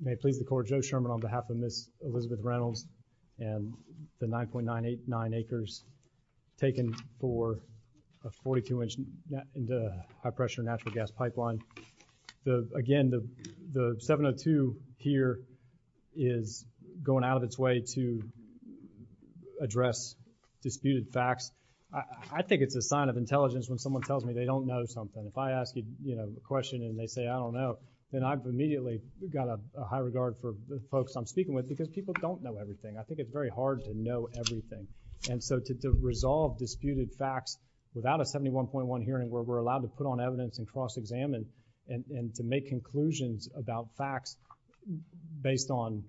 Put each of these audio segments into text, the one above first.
may please the court Joe Sherman on behalf of Ms. Elizabeth Reynolds and the 9.989 acres taken for a 42-inch high-pressure natural gas pipeline the again the the 702 here is going out of its way to address disputed facts I think it's a sign of intelligence when someone tells me they don't know something if I ask you you know a question and they say I don't know then I've immediately got a high regard for the folks I'm speaking with because people don't know everything I think it's very hard to know everything and so to resolve disputed facts without a 71.1 hearing where we're allowed to put on evidence and cross-examine and to make conclusions about facts based on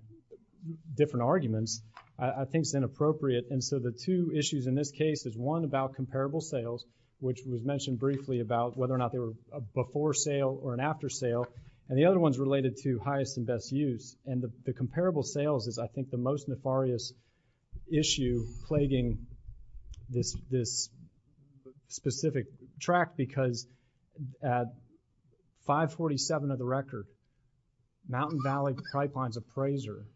different arguments I think it's inappropriate and so the two issues in this case is one about comparable sales which was mentioned briefly about whether or not they were a before sale or an after sale and the other ones related to highest and best use and the comparable sales is I think the most nefarious issue plaguing this this specific track because at 547 of the record Mountain Valley Pipeline's appraiser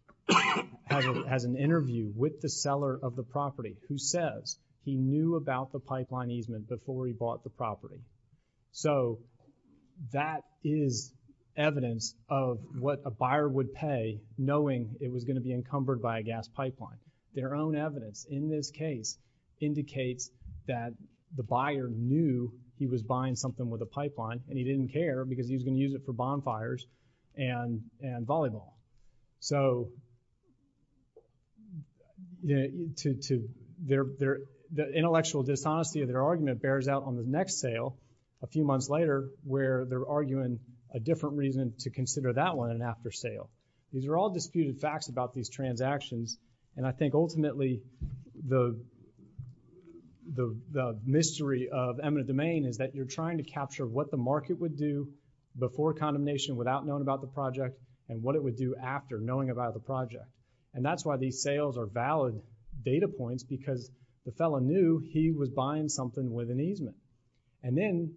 has an interview with the seller of the property who says he knew about the pipeline easement before he bought the property so that is evidence of what a buyer would pay knowing it was going to be encumbered by a gas pipeline their own evidence in this case indicates that the buyer knew he was buying something with a pipeline and he didn't care because he's going to use it for bonfires and and volleyball so yeah to their their intellectual dishonesty of their argument bears out on the next sale a few months later where they're arguing a different reason to consider that one and after sale these are all disputed facts about these transactions and I think ultimately the the mystery of eminent domain is that you're trying to capture what the market would do before condemnation without known about the project and what it would do after knowing about the project and that's why these sales are valid data points because the fella knew he was buying something with an easement and then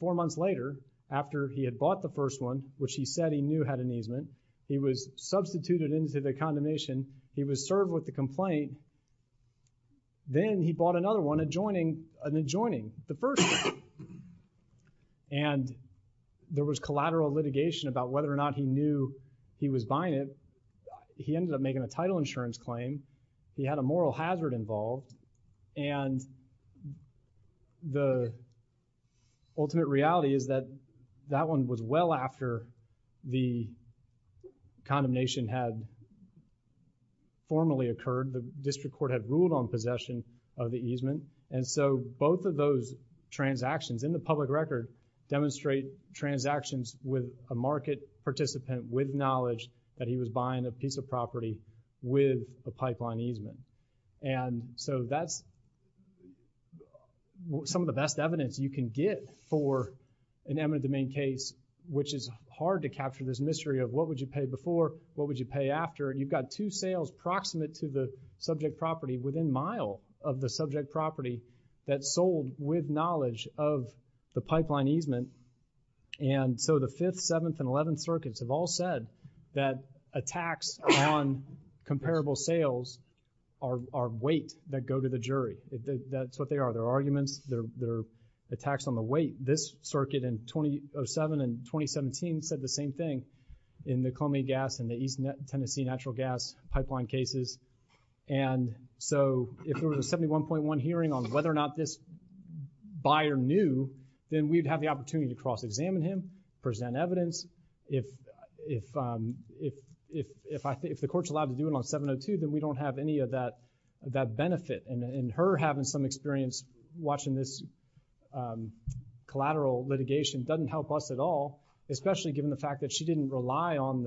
four months later after he had bought the first one which he said he knew had an easement he was substituted into the condemnation he was served with the complaint then he bought another one adjoining an adjoining the first and there was collateral litigation about whether or not he knew he was buying it he ended up making a title insurance claim he had a moral hazard involved and the ultimate reality is that that one was well after the condemnation had formally occurred the district court had ruled on possession of the easement and so both of those transactions in the public record demonstrate transactions with a market participant with knowledge that he was buying a piece of property with a pipeline easement and so that's some of the best evidence you can get for an eminent domain case which is hard to capture this mystery of what would you pay before what would you pay after you got two sales proximate to the subject property within mile of the subject property that sold with knowledge of the pipeline easement and so the 5th 7th and 11th circuits have all said that attacks on comparable sales are weight that go to the jury if that's what they are their arguments their attacks on the weight this circuit in 2007 and 2017 said the same thing in the Columbia gas and the East Tennessee natural gas pipeline cases and so if there was a 71.1 hearing on whether or not this buyer knew then we'd have the opportunity to cross-examine him present evidence if if if if I think if the court's allowed to do it on 702 then we don't have any of that that benefit and in her having some experience watching this collateral litigation doesn't help us at all especially given the fact that she didn't rely on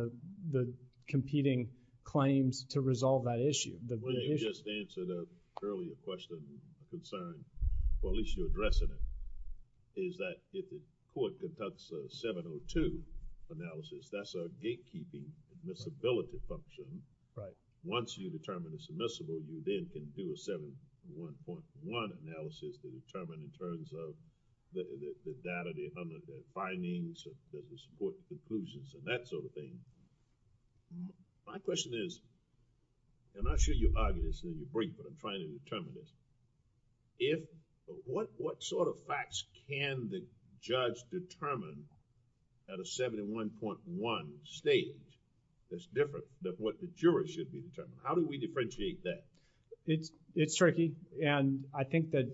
the competing claims to resolve that issue the just answer the earlier question concern well at least you're addressing it is that if the court conducts a 702 analysis that's a gatekeeping admissibility function right once you determine it's admissible you then can do a 71.1 analysis to determine in terms of the data the findings does the support conclusions and that sort of thing my question is I'm not sure you argue this and then you brief but I'm not sure you determine this if what what sort of facts can the judge determine at a 71.1 stage that's different than what the jury should be determined how do we differentiate that it's it's tricky and I think that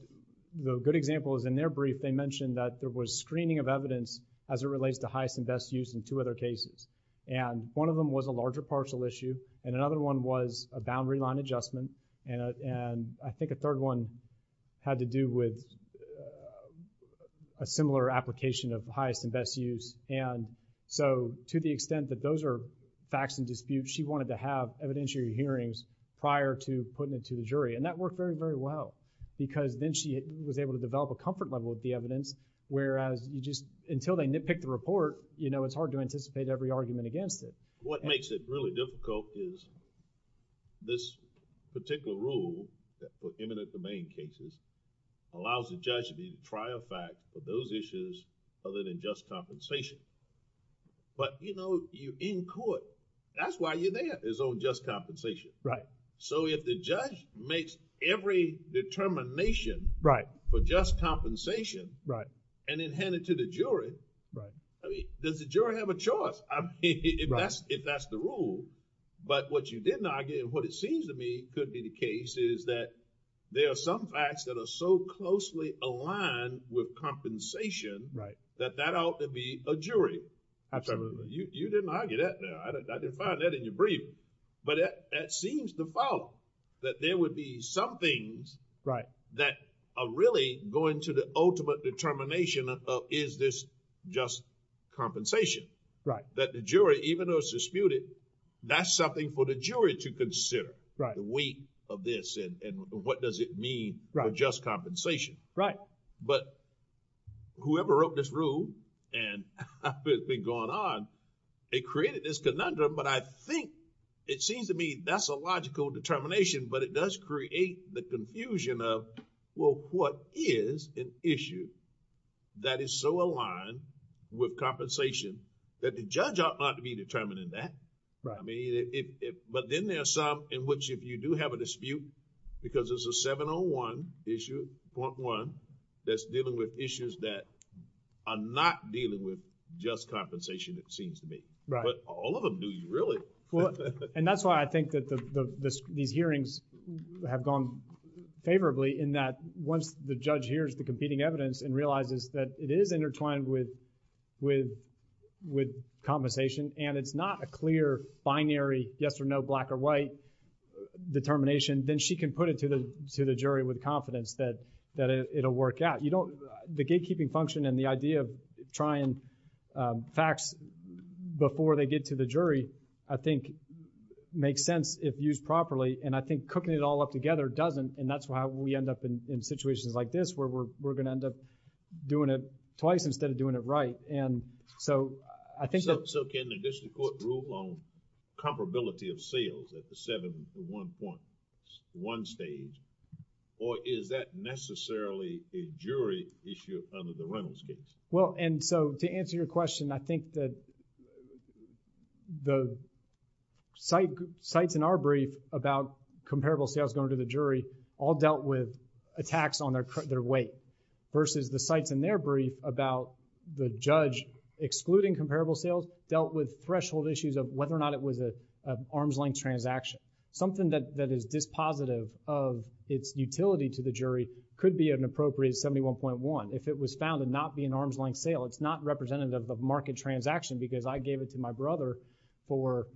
the good example is in their brief they mentioned that there was screening of evidence as it relates to highest and best use in two other cases and one of them was a larger partial issue and another one was a boundary line adjustment and I think a third one had to do with a similar application of highest and best use and so to the extent that those are facts and disputes she wanted to have evidentiary hearings prior to putting it to the jury and that worked very very well because then she was able to develop a comfort level with the evidence whereas you just until they nitpick the report you know it's hard to anticipate every argument against it. What makes it really difficult is this particular rule that prohibited the main cases allows the judge to be to try a fact for those issues other than just compensation but you know you in court that's why you're there is on just compensation. Right. So if the judge makes every determination... Right. For just compensation... Right. And then hand it to the jury... Right. I mean does the jury have a choice if that's the rule but what you didn't argue and what it seems to me could be the case is that there are some facts that are so closely aligned with compensation... That that ought to be a jury... Absolutely. You didn't argue that there. I didn't find that in your brief but that seems to follow that there would be some things... Right. That are really going to the ultimate determination of is this just compensation... That the jury even though it's disputed that's something for the jury to consider... The weight of this and what does it mean for just compensation... Right. But whoever wrote this rule and it's been going on it created this conundrum but I think it seems to me that's a logical determination but it does create the confusion of well what is an issue that is so aligned with compensation that the judge ought not to be determining that... I mean if... But then there are some in which if you do have a dispute because there's a 701 issue .1 that's dealing with issues that are not dealing with just compensation it seems to me... Right. But all of them do really... Well, and that's why I think that these hearings have gone favorably in that once the judge hears the competing evidence and realizes that it is intertwined with compensation and it's not a clear binary yes or no black or white determination then she can put it to the jury with confidence that it'll work out. You don't... The gatekeeping function and the idea of trying facts before they get to the jury I think makes sense if used properly and I think cooking it all up together doesn't and that's why we end up in situations like this where we're going to end up doing it twice instead of doing it right and so I think... So can the district court rule on comparability of sales at the 701.1 stage or is that necessarily a jury issue under the Reynolds case? Well, and so to answer your question I think that the sites in our brief about comparable sales going to the jury all dealt with attacks on their weight versus the sites in their brief about the judge excluding comparable sales dealt with threshold issues of whether or not it was an arm's length transaction. Something that is dispositive of its utility to the jury could be an appropriated 71.1. If it was found to not be an arm's length sale it's not representative of market transaction because I gave it to my brother for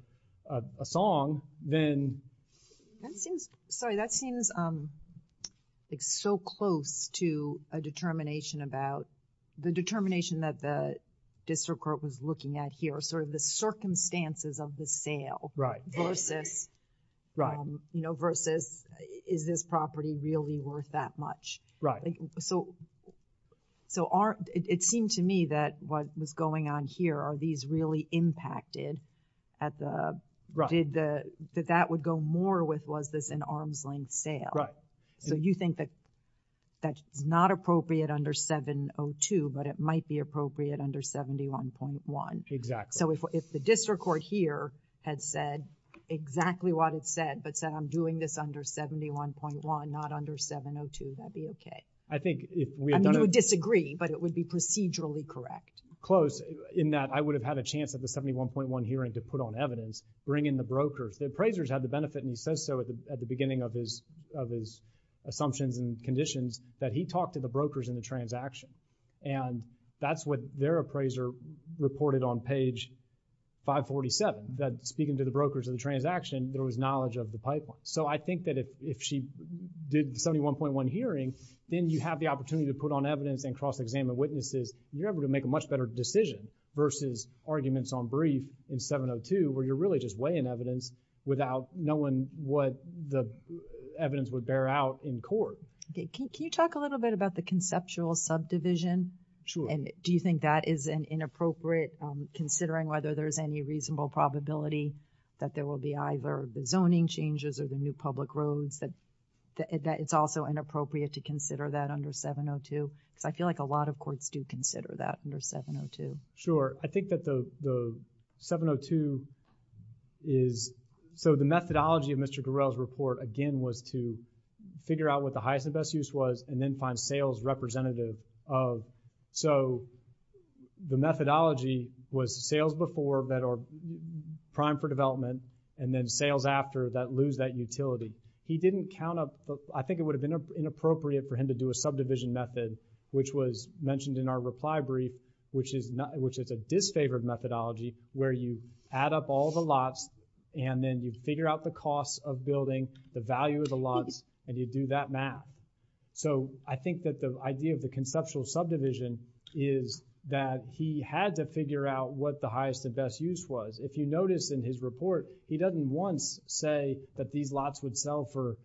a song then... Sorry, that seems like so close to a determination about the determination that the district court was looking at here sort of the circumstances of the So, it seemed to me that what was going on here are these really impacted at the... Did the... That that would go more with was this an arm's length sale? Right. So you think that that's not appropriate under 702 but it might be appropriate under 71.1? Exactly. So if the district court here had said exactly what it said but said I'm doing this under 71.1 not under 702 that would be okay? I think if... I mean you would disagree but it would be procedurally correct. Close in that I would have had a chance at the 71.1 hearing to put on evidence, bring in the brokers. The appraisers had the benefit and he says so at the beginning of his assumptions and conditions that he talked to the brokers in the transaction and that's what their appraiser reported on page 547 that speaking to the brokers of the transaction there was knowledge of the pipeline. So I think that if she did the 71.1 hearing then you have the opportunity to put on evidence and cross-examine witnesses and you're able to make a much better decision versus arguments on brief in 702 where you're really just weighing evidence without knowing what the evidence would bear out in Can you talk a little bit about the conceptual subdivision? Sure. And do you think that is an inappropriate considering whether there's any reasonable probability that there will be either the zoning changes or the new public roads that it's also inappropriate to consider that under 702? Because I feel like a lot of courts do consider that under 702. Sure. I think that the 702 is, so the methodology of Mr. Garrell's report again was to figure out what the highest and best use was and then find sales representative of, so the methodology was sales before that are prime for development and then sales after that lose that utility. He didn't count up, I think it would have been inappropriate for him to do a subdivision method which was mentioned in our reply brief which is a disfavored methodology where you add up all the lots and then you figure out the costs of building, the value of the lots and you do that math. So I think that the idea of the conceptual subdivision is that he had to figure out what the highest and best use was. If you notice in his report, he doesn't once say that these lots would sell for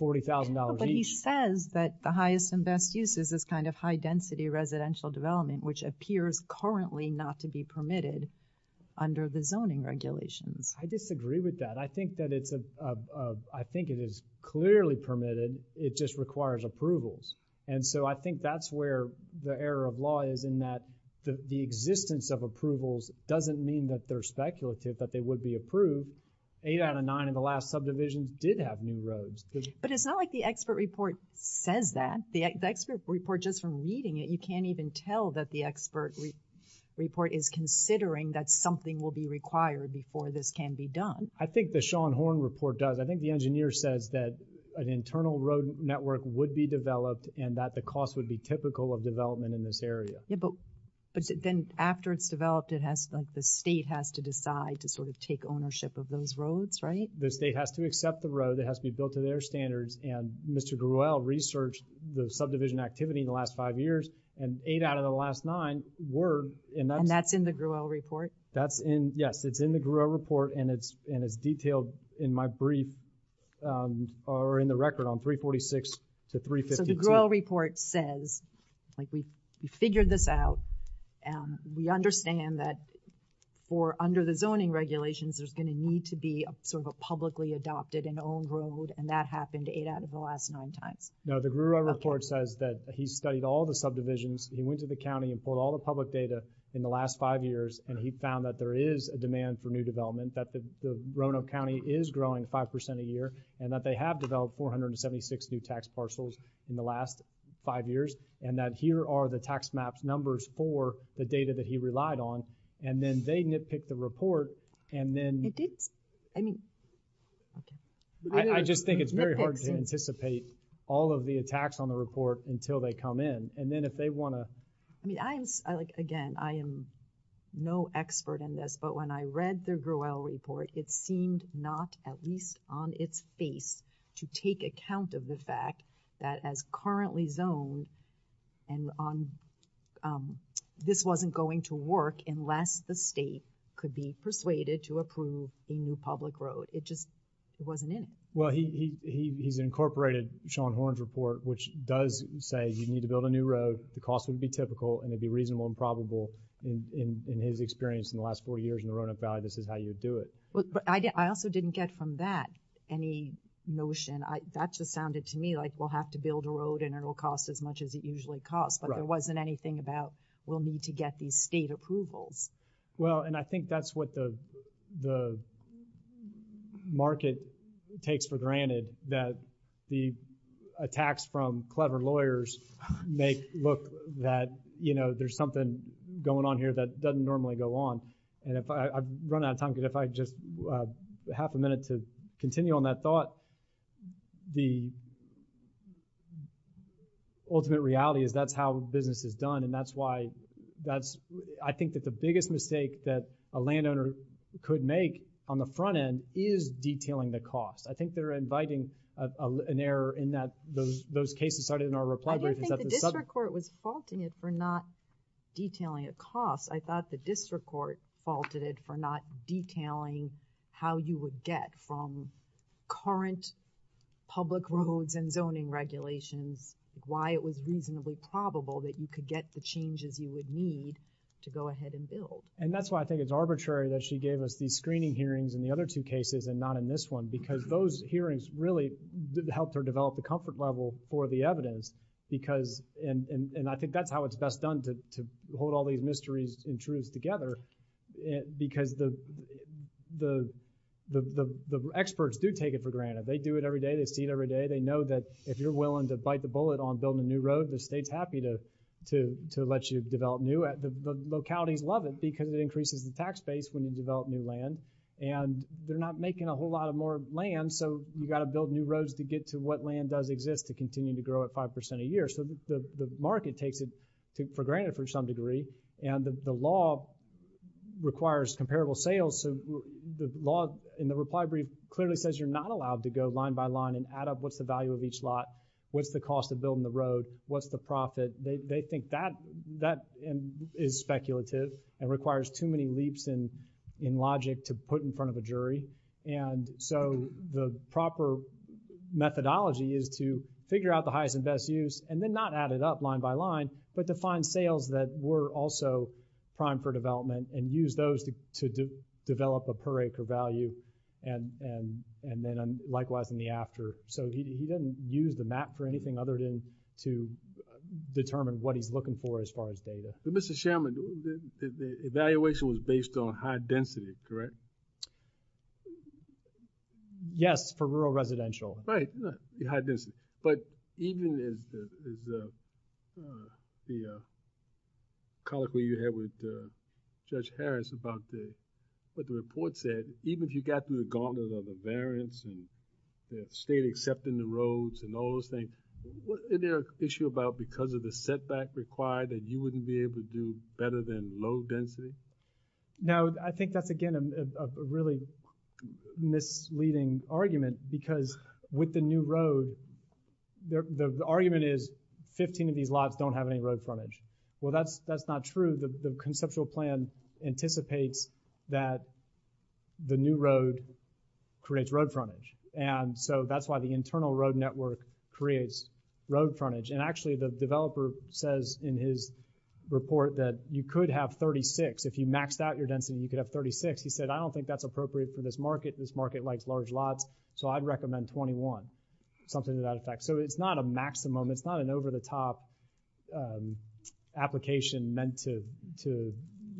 $40,000 each. But he says that the highest and best use is this kind of high-density residential development which appears currently not to be permitted under the zoning regulations. I disagree with that. I think that it's, I think it is clearly permitted, it just requires approvals. And so I think that's where the error of law is in that the existence of approvals doesn't mean that they're speculative, that they would be approved. Eight out of nine of the last subdivisions did have new roads. But it's not like the expert report says that. The expert report just from reading it, you can't even tell that the expert report is considering that something will be required before this can be done. I think the Shawn Horn report does. I think the engineer says that an internal road network would be developed and that the cost would be typical of development in this area. But then after it's developed it has like the state has to decide to sort of take ownership of those roads, right? The state has to accept the road, it has to be built to their standards and Mr. Gruelle researched the subdivision activity in the last five years and eight out of the last nine were and that's in the Gruelle report. That's in, yes, it's in the Gruelle report and it's and it's detailed in my brief or in the record on 346 to 352. So the Gruelle report says like we figured this out and we understand that for under the zoning regulations there's going to need to be a sort of a publicly adopted and owned road and that happened eight out of the last nine times. No, the Gruelle report says that he studied all the subdivisions, he went to the county and put all the public data in the last five years and he found that there is a demand for new development that the Roanoke County is growing five percent a year and that they have developed 476 new tax parcels in the last five years and that here are the tax maps numbers for the data that he relied on and then they nitpick the report and then I just think it's very hard to anticipate all of the attacks on the report until they come in and then if they want to. I mean I like again I am no expert in this but when I read the Gruelle report it seemed not at least on its face to take account of the fact that as currently zoned and on this wasn't going to work unless the state could be persuaded to approve a new public road it just it wasn't in it. Well he's incorporated Sean Horn's report which does say you need to build a new road the cost would be typical and it'd be reasonable and probable in his experience in the last four years in the Roanoke Valley this is how you do it. I also didn't get from that any notion I that just sounded to me like we'll have to build a road and it'll cost as much as it usually costs but there wasn't anything about we'll need to get these state approvals. Well and I think that's what the the market takes for granted that the attacks from clever lawyers make look that you know there's something going on here that doesn't normally go on and if I run out of time could if I just half a minute to continue on that thought the ultimate reality is that's how business is done and that's why that's I think that the biggest mistake that a landowner could make on the front end is detailing the cost. I think they're inviting an error in that those those cases started in our reply. I didn't think the district court was faulting it for not detailing a cost. I thought the district court faulted it for not detailing how you would get from current public roads and zoning regulations why it was reasonably probable that you could get the changes you would need to go ahead and build. And that's why I think it's arbitrary that she gave us these screening hearings in the other two cases and not in this one because those hearings really helped her develop the comfort level for the evidence because and I think that's how it's best done to hold all these mysteries and truths together because the experts do take it for granted. They do it every day. They see it every day. They know that if you're willing to bite the bullet on building a new road the state's happy to let you develop new. The localities love it because it increases the tax base when you develop new land and they're not making a whole lot of more land so you got to build new roads to get to what land does exist to continue to grow at 5% a year so the market takes it for granted for some degree and the law requires comparable sales so the law in the reply brief clearly says you're not allowed to go line by line and add up what's the value of each lot, what's the cost of building the road, what's the profit. They think that that is speculative and requires too many leaps in in logic to put in front of a jury and so the proper methodology is to figure out the highest and best use and then not add it up line by line but to find sales that were also primed for development and use those to develop a per acre value and then likewise in the after. So he didn't use the map for anything other than to determine what he's looking for as far as data. But Mr. Chairman, the evaluation was based on high density, correct? Yes for rural residential. Right, high density. But even as the colloquy you had with Judge Harris about what the report said, even if you got through the gauntlet of the variance and the state accepting the roads and all those things, is there an issue about because of the setback required that you wouldn't be able to do better than low density? No, I think that's again a really misleading argument because with the new road, the argument is 15 of these lots don't have any road frontage. Well that's that's not true. The conceptual plan anticipates that the new road creates road frontage and so that's why the internal road network creates road frontage. And actually the developer says in his report that you could have 36. If you maxed out your density you could have 36. He said I don't think that's appropriate for this market. This market likes large lots so I'd recommend 21. Something to that effect. So it's not a maximum. It's not an over-the-top application meant to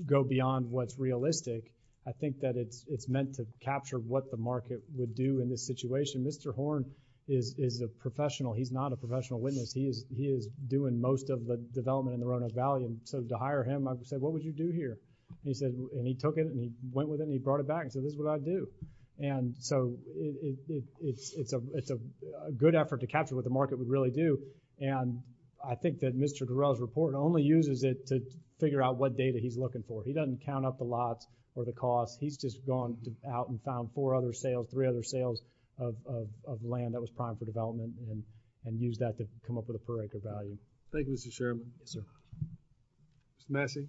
go beyond what's realistic. I think that it's meant to capture what the market would do in this situation. Mr. Horn is a professional. He's not a professional witness. He is doing most of the development in the Roanoke Valley and so to hire him I said what would you do here? He said and he took it and he went with him he brought it back and said this is what I do. And so it's a good effort to capture what the market would really do and I think that Mr. Durell's report only uses it to figure out what data he's looking for. He doesn't count up the lots or the cost. He's just gone out and found four other sales, three other sales of land that was primed for development and used that to come up with a per acre value. Thank you, Mr. Chairman. Yes, sir. Mr. Massey.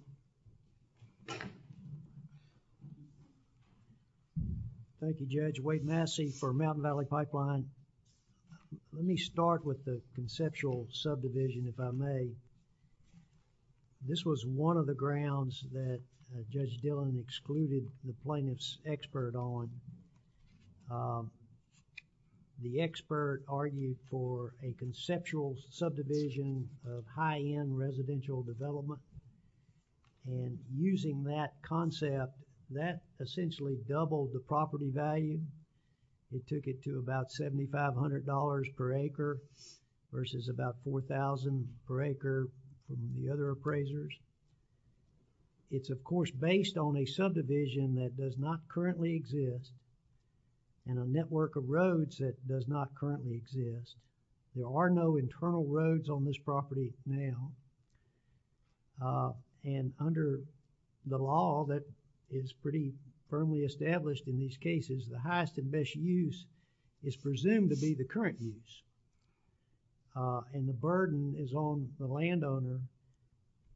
Thank you, Judge. Wade Massey for Mountain Valley Pipeline. Let me start with the conceptual subdivision if I may. This was one of the grounds that Judge Dillon excluded the plaintiff's expert on. The expert argued for a conceptual subdivision of high-end residential development and using that concept that essentially doubled the property value. It took it to about $7,500 per acre versus about $4,000 per acre from the other appraisers. It's of course based on a subdivision that does not currently exist and a network of roads that does not currently exist. There are no internal roads on this property now and under the law that is pretty firmly established in these cases, the highest and best use is presumed to be the current use and the burden is on the landowner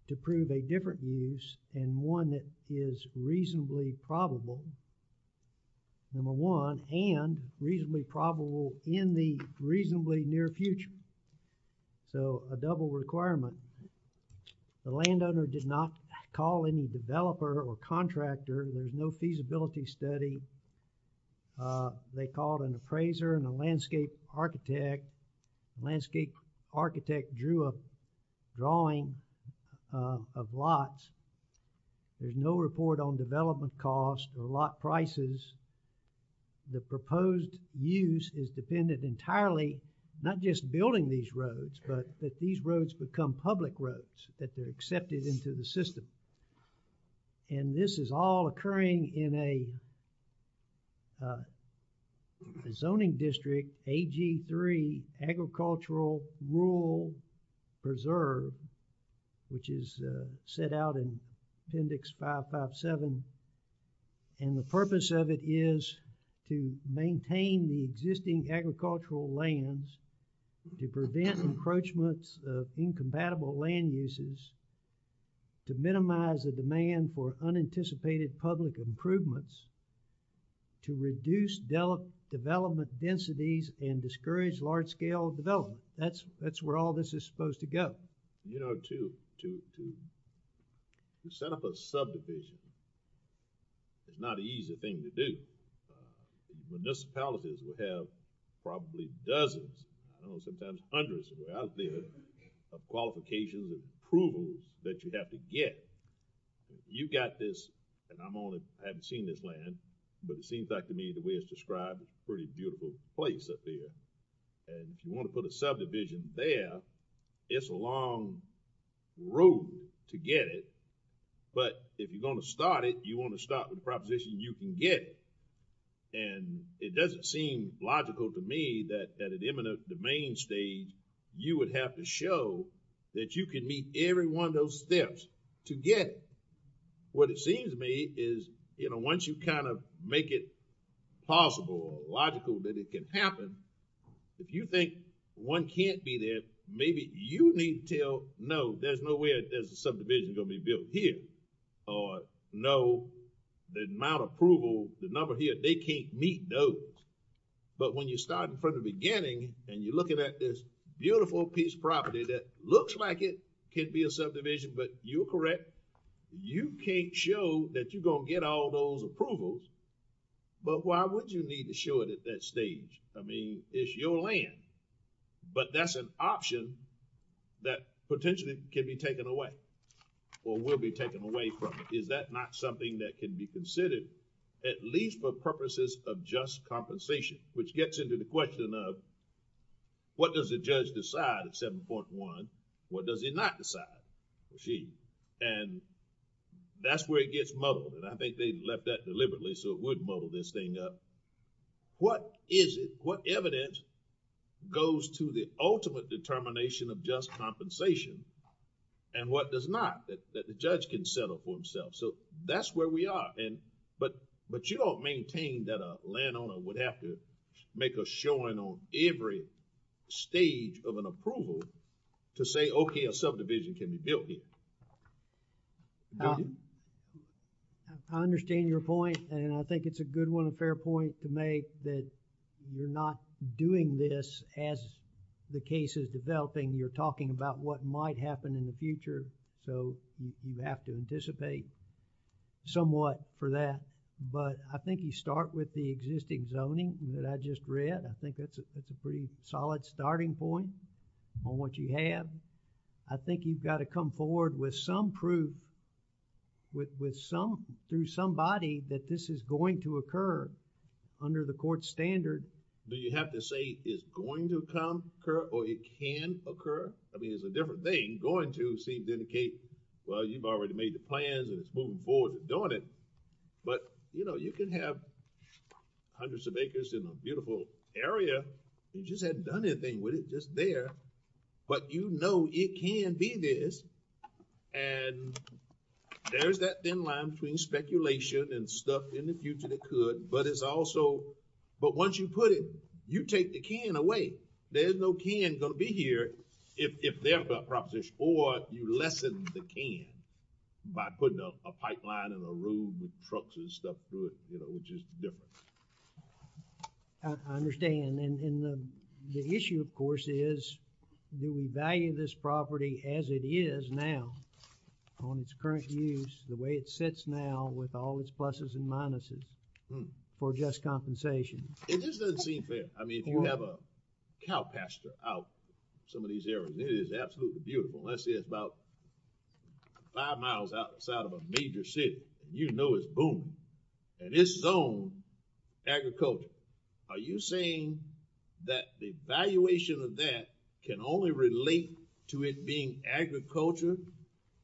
to prove a different use and one that is reasonably probable, number one, and reasonably probable in the reasonably near future. So a double requirement. The landowner did not call any developer or contractor. There's no feasibility study. They called an appraiser and a landscape architect. The landscape architect drew a drawing of lots. There's no report on development cost or lot prices. The proposed use is dependent entirely not just building these roads but that these roads become public roads, that they're accepted into the system and this is all occurring in a, uh, zoning district AG3 Agricultural Rural Preserve which is set out in Appendix 557 and the purpose of it is to maintain the existing agricultural lands, to prevent encroachments of incompatible land uses, to minimize the demand for unanticipated public improvements, to reduce development densities and discourage large-scale development. That's, that's where all this is supposed to go. You know, to, to, to set up a subdivision is not an easy thing to do. Municipalities will have probably dozens, I don't know, sometimes hundreds of years of qualifications and approvals that you have to get. You've got this, and I'm only, I haven't seen this land, but it seems like to me the way it's described, it's a pretty beautiful place up here and if you want to put a subdivision there, it's a long road to get it, but if you're going to start it, you want to start with the proposition you can get it and it doesn't seem logical to me that at the main stage you would have to show that you can meet every one of those steps to get it. What it seems to me is, you know, once you kind of make it possible or logical that it can happen, if you think one can't be there, maybe you need to tell, no, there's no way that there's a subdivision going to be built here, or no, the amount of approval, the number here, they can't meet those, but when you start from the beginning and you're looking at this beautiful piece of property that looks like it can be a subdivision, but you're correct, you can't show that you're gonna get all those approvals, but why would you need to show it at that stage? I mean, it's your land, but that's an option that potentially can be taken away or will be taken away from it. Is that not something that can be considered at least for purposes of just compensation, which gets into the question of what does the judge decide at 7.1, what does he not decide? And that's where it gets muddled and I think they left that deliberately so it would muddle this thing up. What is it, what evidence goes to the ultimate determination of just compensation and what does not that the judge can settle for himself? So, that's where we are and, but, but you don't maintain that a landowner would have to make a showing on every stage of an approval to say, okay, a subdivision can be built here. Do you? I understand your point and I think it's a good one, a fair point to make that you're not doing this as the case is developing. You're talking about what might happen in the future, so you have to anticipate somewhat for that, but I think you start with the existing zoning that I just read. I think that's a pretty solid starting point on what you have. I think you've got to come forward with some proof with some, through somebody that this is going to occur under the court standard... It's a different thing going to seem to indicate, well, you've already made the plans and it's moving forward to doing it, but, you know, you can have hundreds of acres in a beautiful area and you just haven't done anything with it just there, but you know it can be this and there's that thin line between speculation and stuff in the future that could, but it's also, but once you put it, you take the can away. There's no can going to be here if they're proposition or you lessen the can by putting a pipeline and a road with trucks and stuff through it, you know, which is different. I understand and the issue of course is do we value this property as it is now on its current use, the way it sits now with all its pluses and minuses for just compensation? It just doesn't seem fair. I mean, if you have a cow pasture out in some of these areas, it is absolutely beautiful. Let's say it's about five miles outside of a major city and you know it's booming and it's zoned agriculture. Are you saying that the valuation of that can only relate to it being agriculture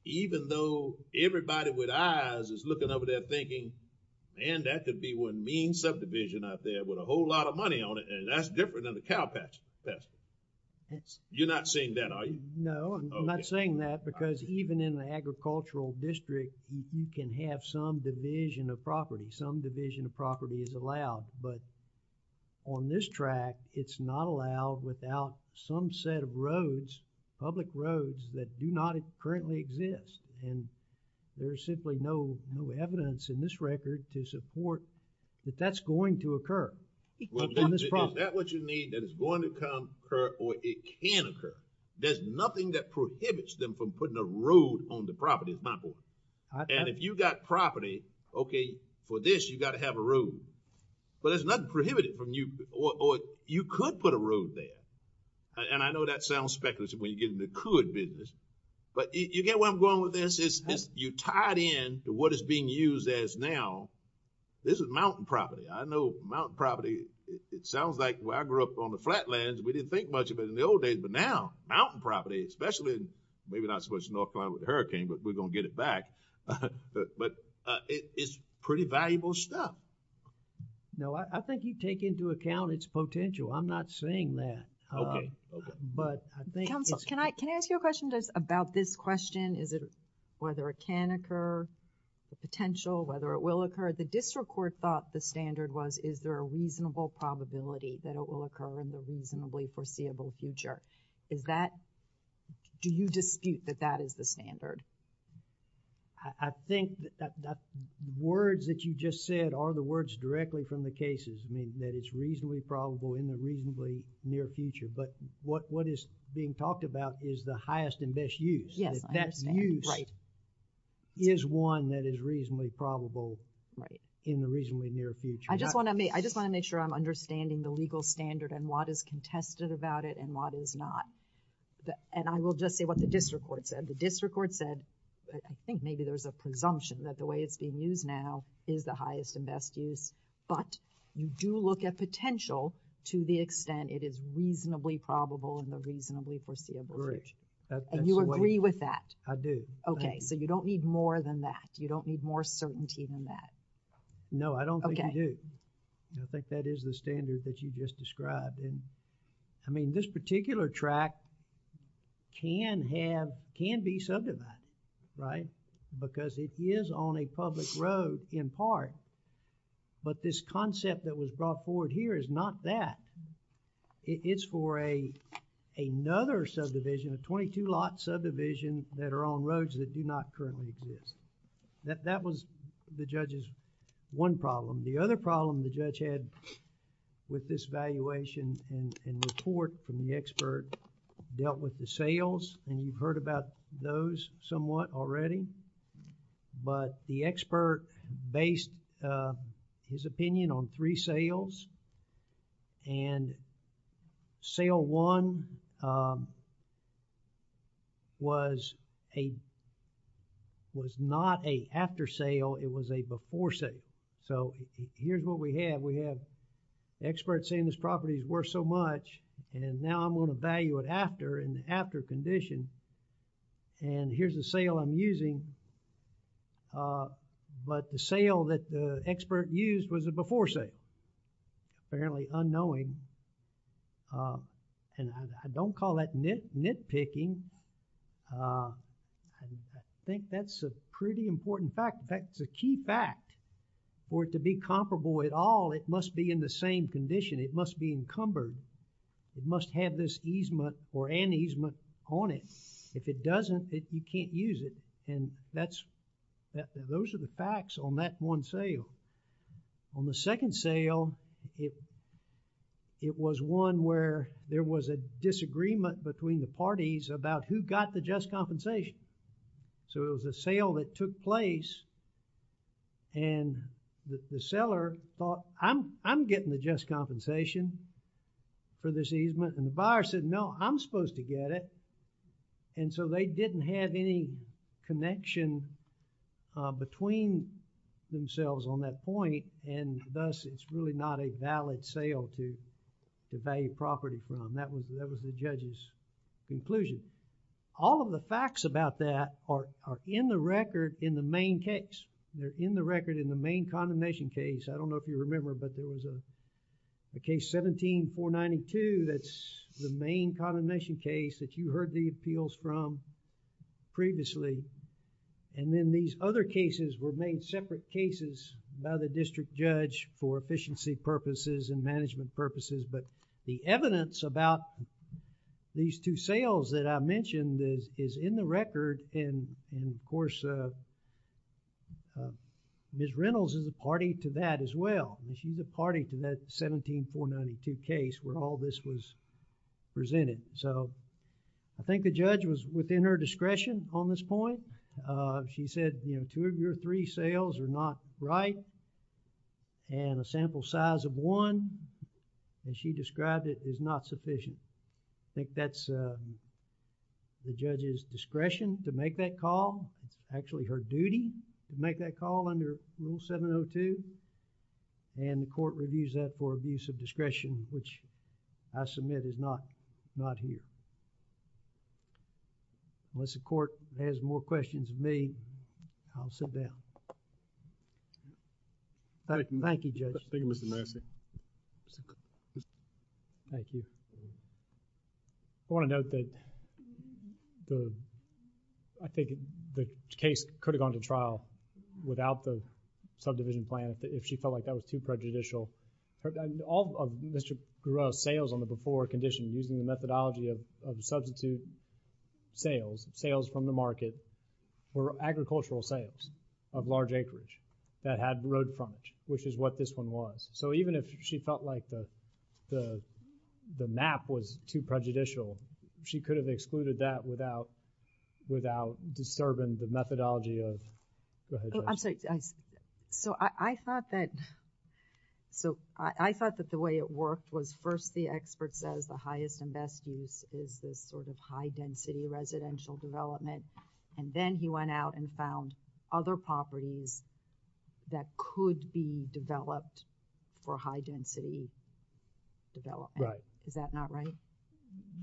even though everybody with eyes is looking over there thinking, man, that could be one mean subdivision out there with a whole lot of money on it and that's different than the cow pasture. You're not saying that, are you? No, I'm not saying that because even in the agricultural district, you can have some division of property. Some division of property is allowed, but on this track, it's not allowed without some set of roads, public roads that do not currently exist. And there's simply no evidence in this record to support that that's going to occur on this property. Is that what you need, that it's going to occur or it can occur? There's nothing that prohibits them from putting a road on the property, is my point. And if you've got property, okay, for this, you've got to have a road. But there's nothing prohibitive from you or you could put a road there. And I know that sounds speculative when you get into the could business, but you get where I'm going with this? You tie it in to what is being used as now. This is mountain property. I know mountain property, it sounds like where I grew up on the flatlands, we didn't think much of it in the old days. But now, mountain property, especially maybe not so much in North Carolina with the hurricane, but we're going to get it back. But it's pretty valuable stuff. No, I think you take into account its potential. I'm not saying that. Okay. Okay. But I think... Counsel, can I ask you a question just about this question? Is it, whether it can occur, the potential, whether it will occur? The district court thought the standard was, is there a reasonable probability that it will occur in the reasonably foreseeable future? Is that, do you dispute that that is the standard? I think that the words that you just said are the words directly from the cases. I mean, that it's reasonably probable in the reasonably near future. But what is being talked about is the highest and best use. Yes, I understand. That that use is one that is reasonably probable in the reasonably near future. I just want to make sure I'm understanding the legal standard and what is contested about it and what is not. And I will just say what the district court said. The district court said, I think maybe there's a presumption that the way it's being used now is the highest and best use. But you do look at the potential to the extent it is reasonably probable in the reasonably foreseeable future. And you agree with that? I do. Okay. So, you don't need more than that. You don't need more certainty than that. No, I don't think you do. I think that is the standard that you just described. And, I mean, this particular track can have, can be subdivided, right? Because it is on a public road in part. But this concept that was brought forward here is not that. It, it's for a, another subdivision, a twenty-two lot subdivision that are on roads that do not currently exist. That, that was the judge's one problem. The other problem the judge had with this valuation and, and report from the expert dealt with the sales and you've heard about those somewhat already. But the expert based his opinion on three sales and sale one was a, was not a after sale. It was a before sale. So, here's what we have. We have experts saying this property is worth so much and now I'm going to value it after, in the after condition. And here's the sale I'm using. But the sale that the expert used was a before sale. Apparently unknowing. And I don't call that nit, nitpicking. I think that's a pretty important fact. In fact, it's a key fact for it to be comparable at all. It must be in the same condition. It must be encumbered. It must have this easement or an easement on it. If it doesn't, it, you can't use it. And that's, those are the facts on that one sale. On the second sale, it, it was one where there was a disagreement between the parties about who got the just compensation. I'm, I'm getting the just compensation for this easement and the buyer said, no, I'm supposed to get it. And so, they didn't have any connection between themselves on that point and thus, it's really not a valid sale to, to value property from. That was, that was the judge's conclusion. All of the facts about that are, are in the record in the main case. They're in the record in the main condemnation case. I don't know if you remember, but there was a, a case 17-492 that's the main condemnation case that you heard the appeals from previously. And then, these other cases were made separate cases by the district judge for efficiency purposes and management purposes. But the evidence about these two sales that I mentioned is, is in the record and, and of course, uh, uh, Ms. Reynolds is a party to that as well and she's a party to that 17-492 case where all this was presented. So, I think the judge was within her discretion on this point. Uh, she said, you know, two of your three sales are not right and a sample size of one and she described it as not sufficient. I think that's, uh, the judge's discretion to make that call. It's actually her duty to make that call under Rule 702 and the court reviews that for abuse of discretion which I submit is not, not here. Unless the court has more questions of me, I'll sit down. Thank you, Judge. Thank you, Mr. Massey. Thank you. I want to note that the, I think the case could have gone to trial without the subdivision plan if she felt like that was too prejudicial. All of Mr. Giroir's sales on the before condition using the methodology of substitute sales, sales from the market, were agricultural sales of large acreage that had road frontage, which is what this one was. So, even if she felt like the, the, the map was too prejudicial, she could have excluded that without, without disturbing the methodology of, go ahead, Judge. Oh, I'm sorry. So, I thought that, so, I thought that the way it worked was first the expert says the highest and best use is this sort of high-density residential development and then he went out and found other properties that could be developed for high-density development. Is that not right?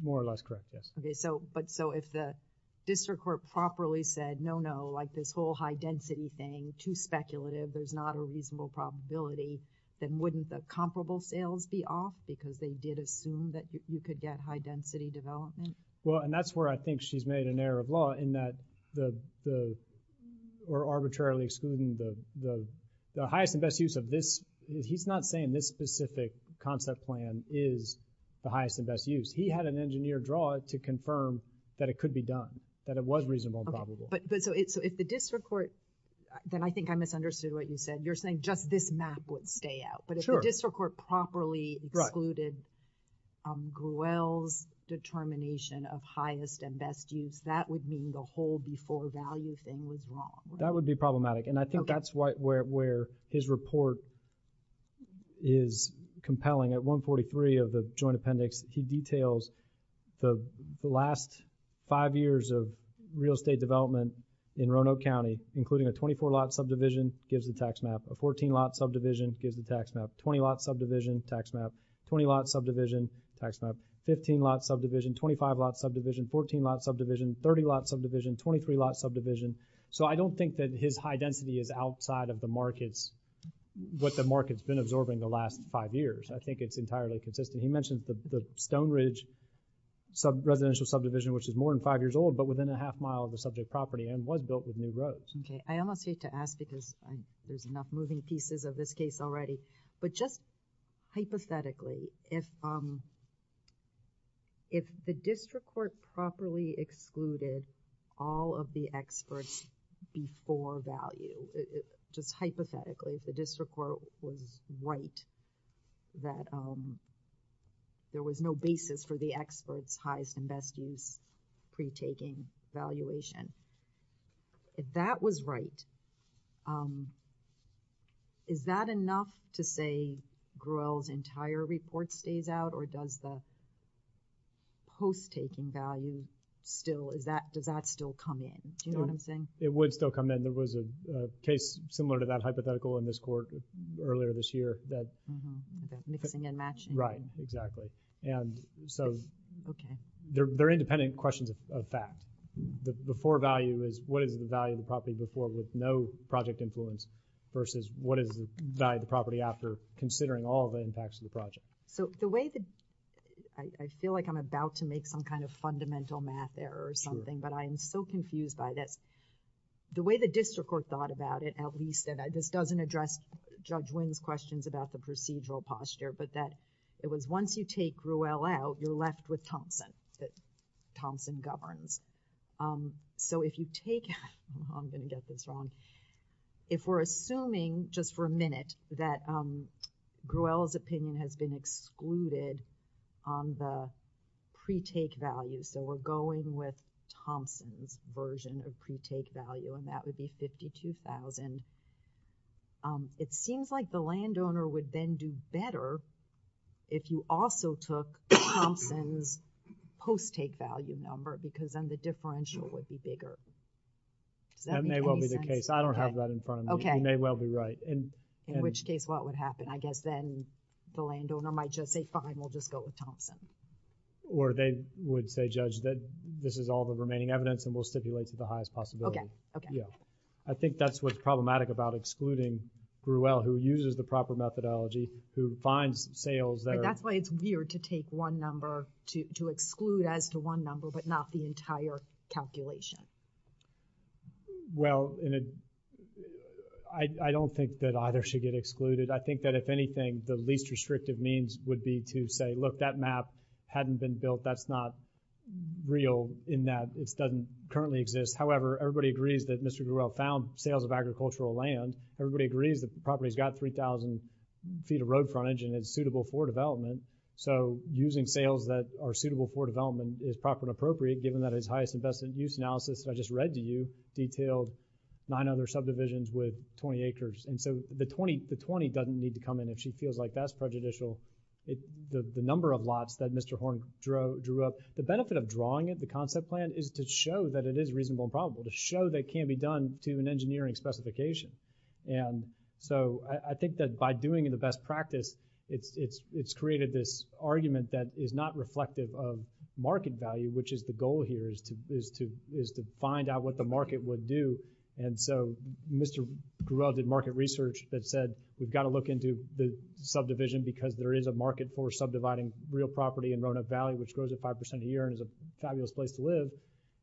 More or less correct, yes. Okay, so, but so if the district court properly said, no, no, like this whole high-density thing, too speculative, there's not a reasonable probability, then wouldn't the comparable sales be off because they did assume that you could get high-density development? Well, and that's where I think she's made an error of law in that the, the, or arbitrarily excluding the, the, the highest and best use of this, he's not saying this specific concept plan is the highest and best use. He had an engineer draw it to confirm that it could be done, that it was reasonable and probable. But, but so, so if the district court, then I think I misunderstood what you said. You're saying just this map would stay out, but if the district court properly excluded Gruelle's determination of highest and best use, that would mean the whole before value thing was wrong. That would be problematic, and I think that's why, where, where his report is compelling. At 143 of the joint appendix, he details the, the last five years of real estate development in Roanoke County, including a 24 lot subdivision, gives the tax map, a 14 lot subdivision gives the tax map, 20 lot subdivision, tax map, 20 lot subdivision, tax map, 15 lot subdivision, 25 lot subdivision, 14 lot subdivision, 30 lot subdivision, 23 lot subdivision. So I don't think that his high density is outside of the markets, what the market's been absorbing the last five years. I think it's entirely consistent. He mentioned the, the Stone Ridge sub residential subdivision, which is more than five years old, but within a half mile of the subject property and was built with new roads. Okay, I almost hate to ask because there's enough moving pieces of this case already, but just hypothetically, if, if the district court properly excluded all of the experts before value, just hypothetically, if the district court was right that there was no basis for the experts highest and best use pre-taking valuation, if that was right, is that enough to say Gruelle's entire report stays out or does the post-taking value still, is that, does that still come in? Do you know what I'm saying? It would still come in. There was a case similar to that hypothetical in this court earlier this year that. That mixing and matching. Right, exactly. And so, they're independent questions of fact. The before value is what is the value of the property before with no project influence versus what is the value of the property after considering all of the impacts of the project. So, the way that, I feel like I'm about to make some kind of fundamental math error or something, but I am so confused by this. The way the district court thought about it, at least, and this doesn't address Judge Wing's questions about the procedural posture, but that it was once you take Gruelle out, you're left with Thompson, that Thompson governs. So if you take, I'm going to get this wrong, if we're assuming just for a minute that Gruelle's opinion has been excluded on the pre-take value, so we're going with Thompson's version of pre-take value, and that would be it seems like the landowner would then do better if you also took Thompson's post-take value number because then the differential would be bigger. Does that make any sense? That may well be the case. I don't have that in front of me. Okay. You may well be right. In which case, what would happen? I guess then the landowner might just say, fine, we'll just go with Thompson. Or they would say, Judge, that this is all the remaining evidence and we'll stipulate to the highest possibility. Okay, okay. I think that's what's problematic about excluding Gruelle, who uses the proper methodology, who finds sales that are- That's why it's weird to take one number, to exclude as to one number, but not the entire calculation. Well, I don't think that either should get excluded. I think that if anything, the least restrictive means would be to say, look, that map hadn't been built. That's not real in that it doesn't currently exist. However, everybody agrees that Mr. Gruelle found sales of agricultural land. Everybody agrees that the property's got 3,000 feet of road frontage and it's suitable for development. So using sales that are suitable for development is proper and appropriate, given that his highest investment use analysis that I just read to you detailed nine other subdivisions with 20 acres. And so the 20 doesn't need to come in if she feels like that's prejudicial. The number of lots that Mr. Horn drew up, the benefit of drawing it, the concept plan, is to show that it is reasonable and probable, to show that it can be done to an engineering specification. And so I think that by doing it in the best practice, it's created this argument that is not reflective of market value, which is the goal here, is to find out what the market would do. And so Mr. Gruelle did market research that said, we've gotta look into the subdivision because there is a market for subdividing real property in Roanoke and it's a good place to live.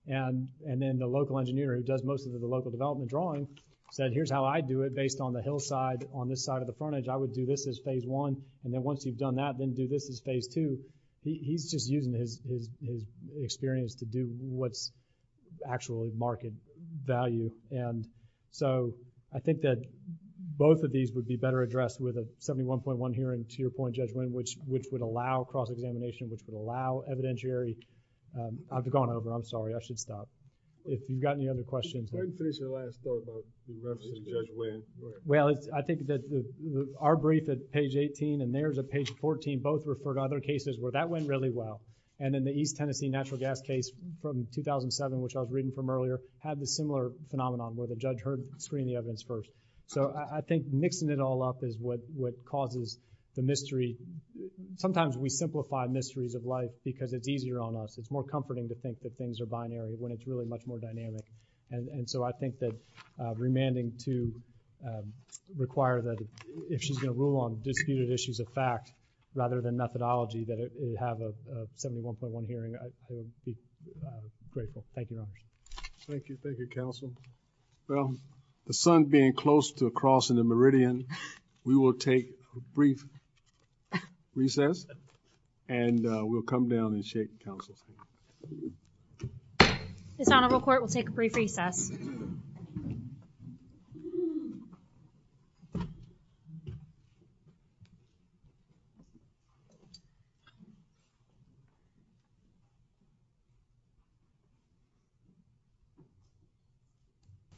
And then the local engineer who does most of the local development drawing said, here's how I'd do it based on the hillside on this side of the frontage. I would do this as phase one, and then once you've done that, then do this as phase two. He's just using his experience to do what's actually market value. And so I think that both of these would be better addressed with a 71.1 hearing, to your point, Judge Winn, which would allow cross-examination, which would allow evidentiary. I'm going over, I'm sorry, I should stop. If you've got any other questions. I didn't finish the last thought about the reference to Judge Winn. Well, I think that our brief at page 18 and there's a page 14, both refer to other cases where that went really well. And in the East Tennessee natural gas case from 2007, which I was reading from earlier, had the similar phenomenon where the judge heard screening evidence first. So I think mixing it all up is what causes the mystery. Sometimes we simplify mysteries of life because it's easier on us. It's more comforting to think that things are binary when it's really much more dynamic. And so I think that remanding to require that if she's going to rule on disputed issues of fact, rather than methodology, that it have a 71.1 hearing. I would be grateful. Thank you, Your Honors. Thank you, thank you, Counsel. Well, the sun being close to crossing the meridian, we will take a brief recess. And we'll come down and shake Counsel's hand. This Honorable Court will take a brief recess.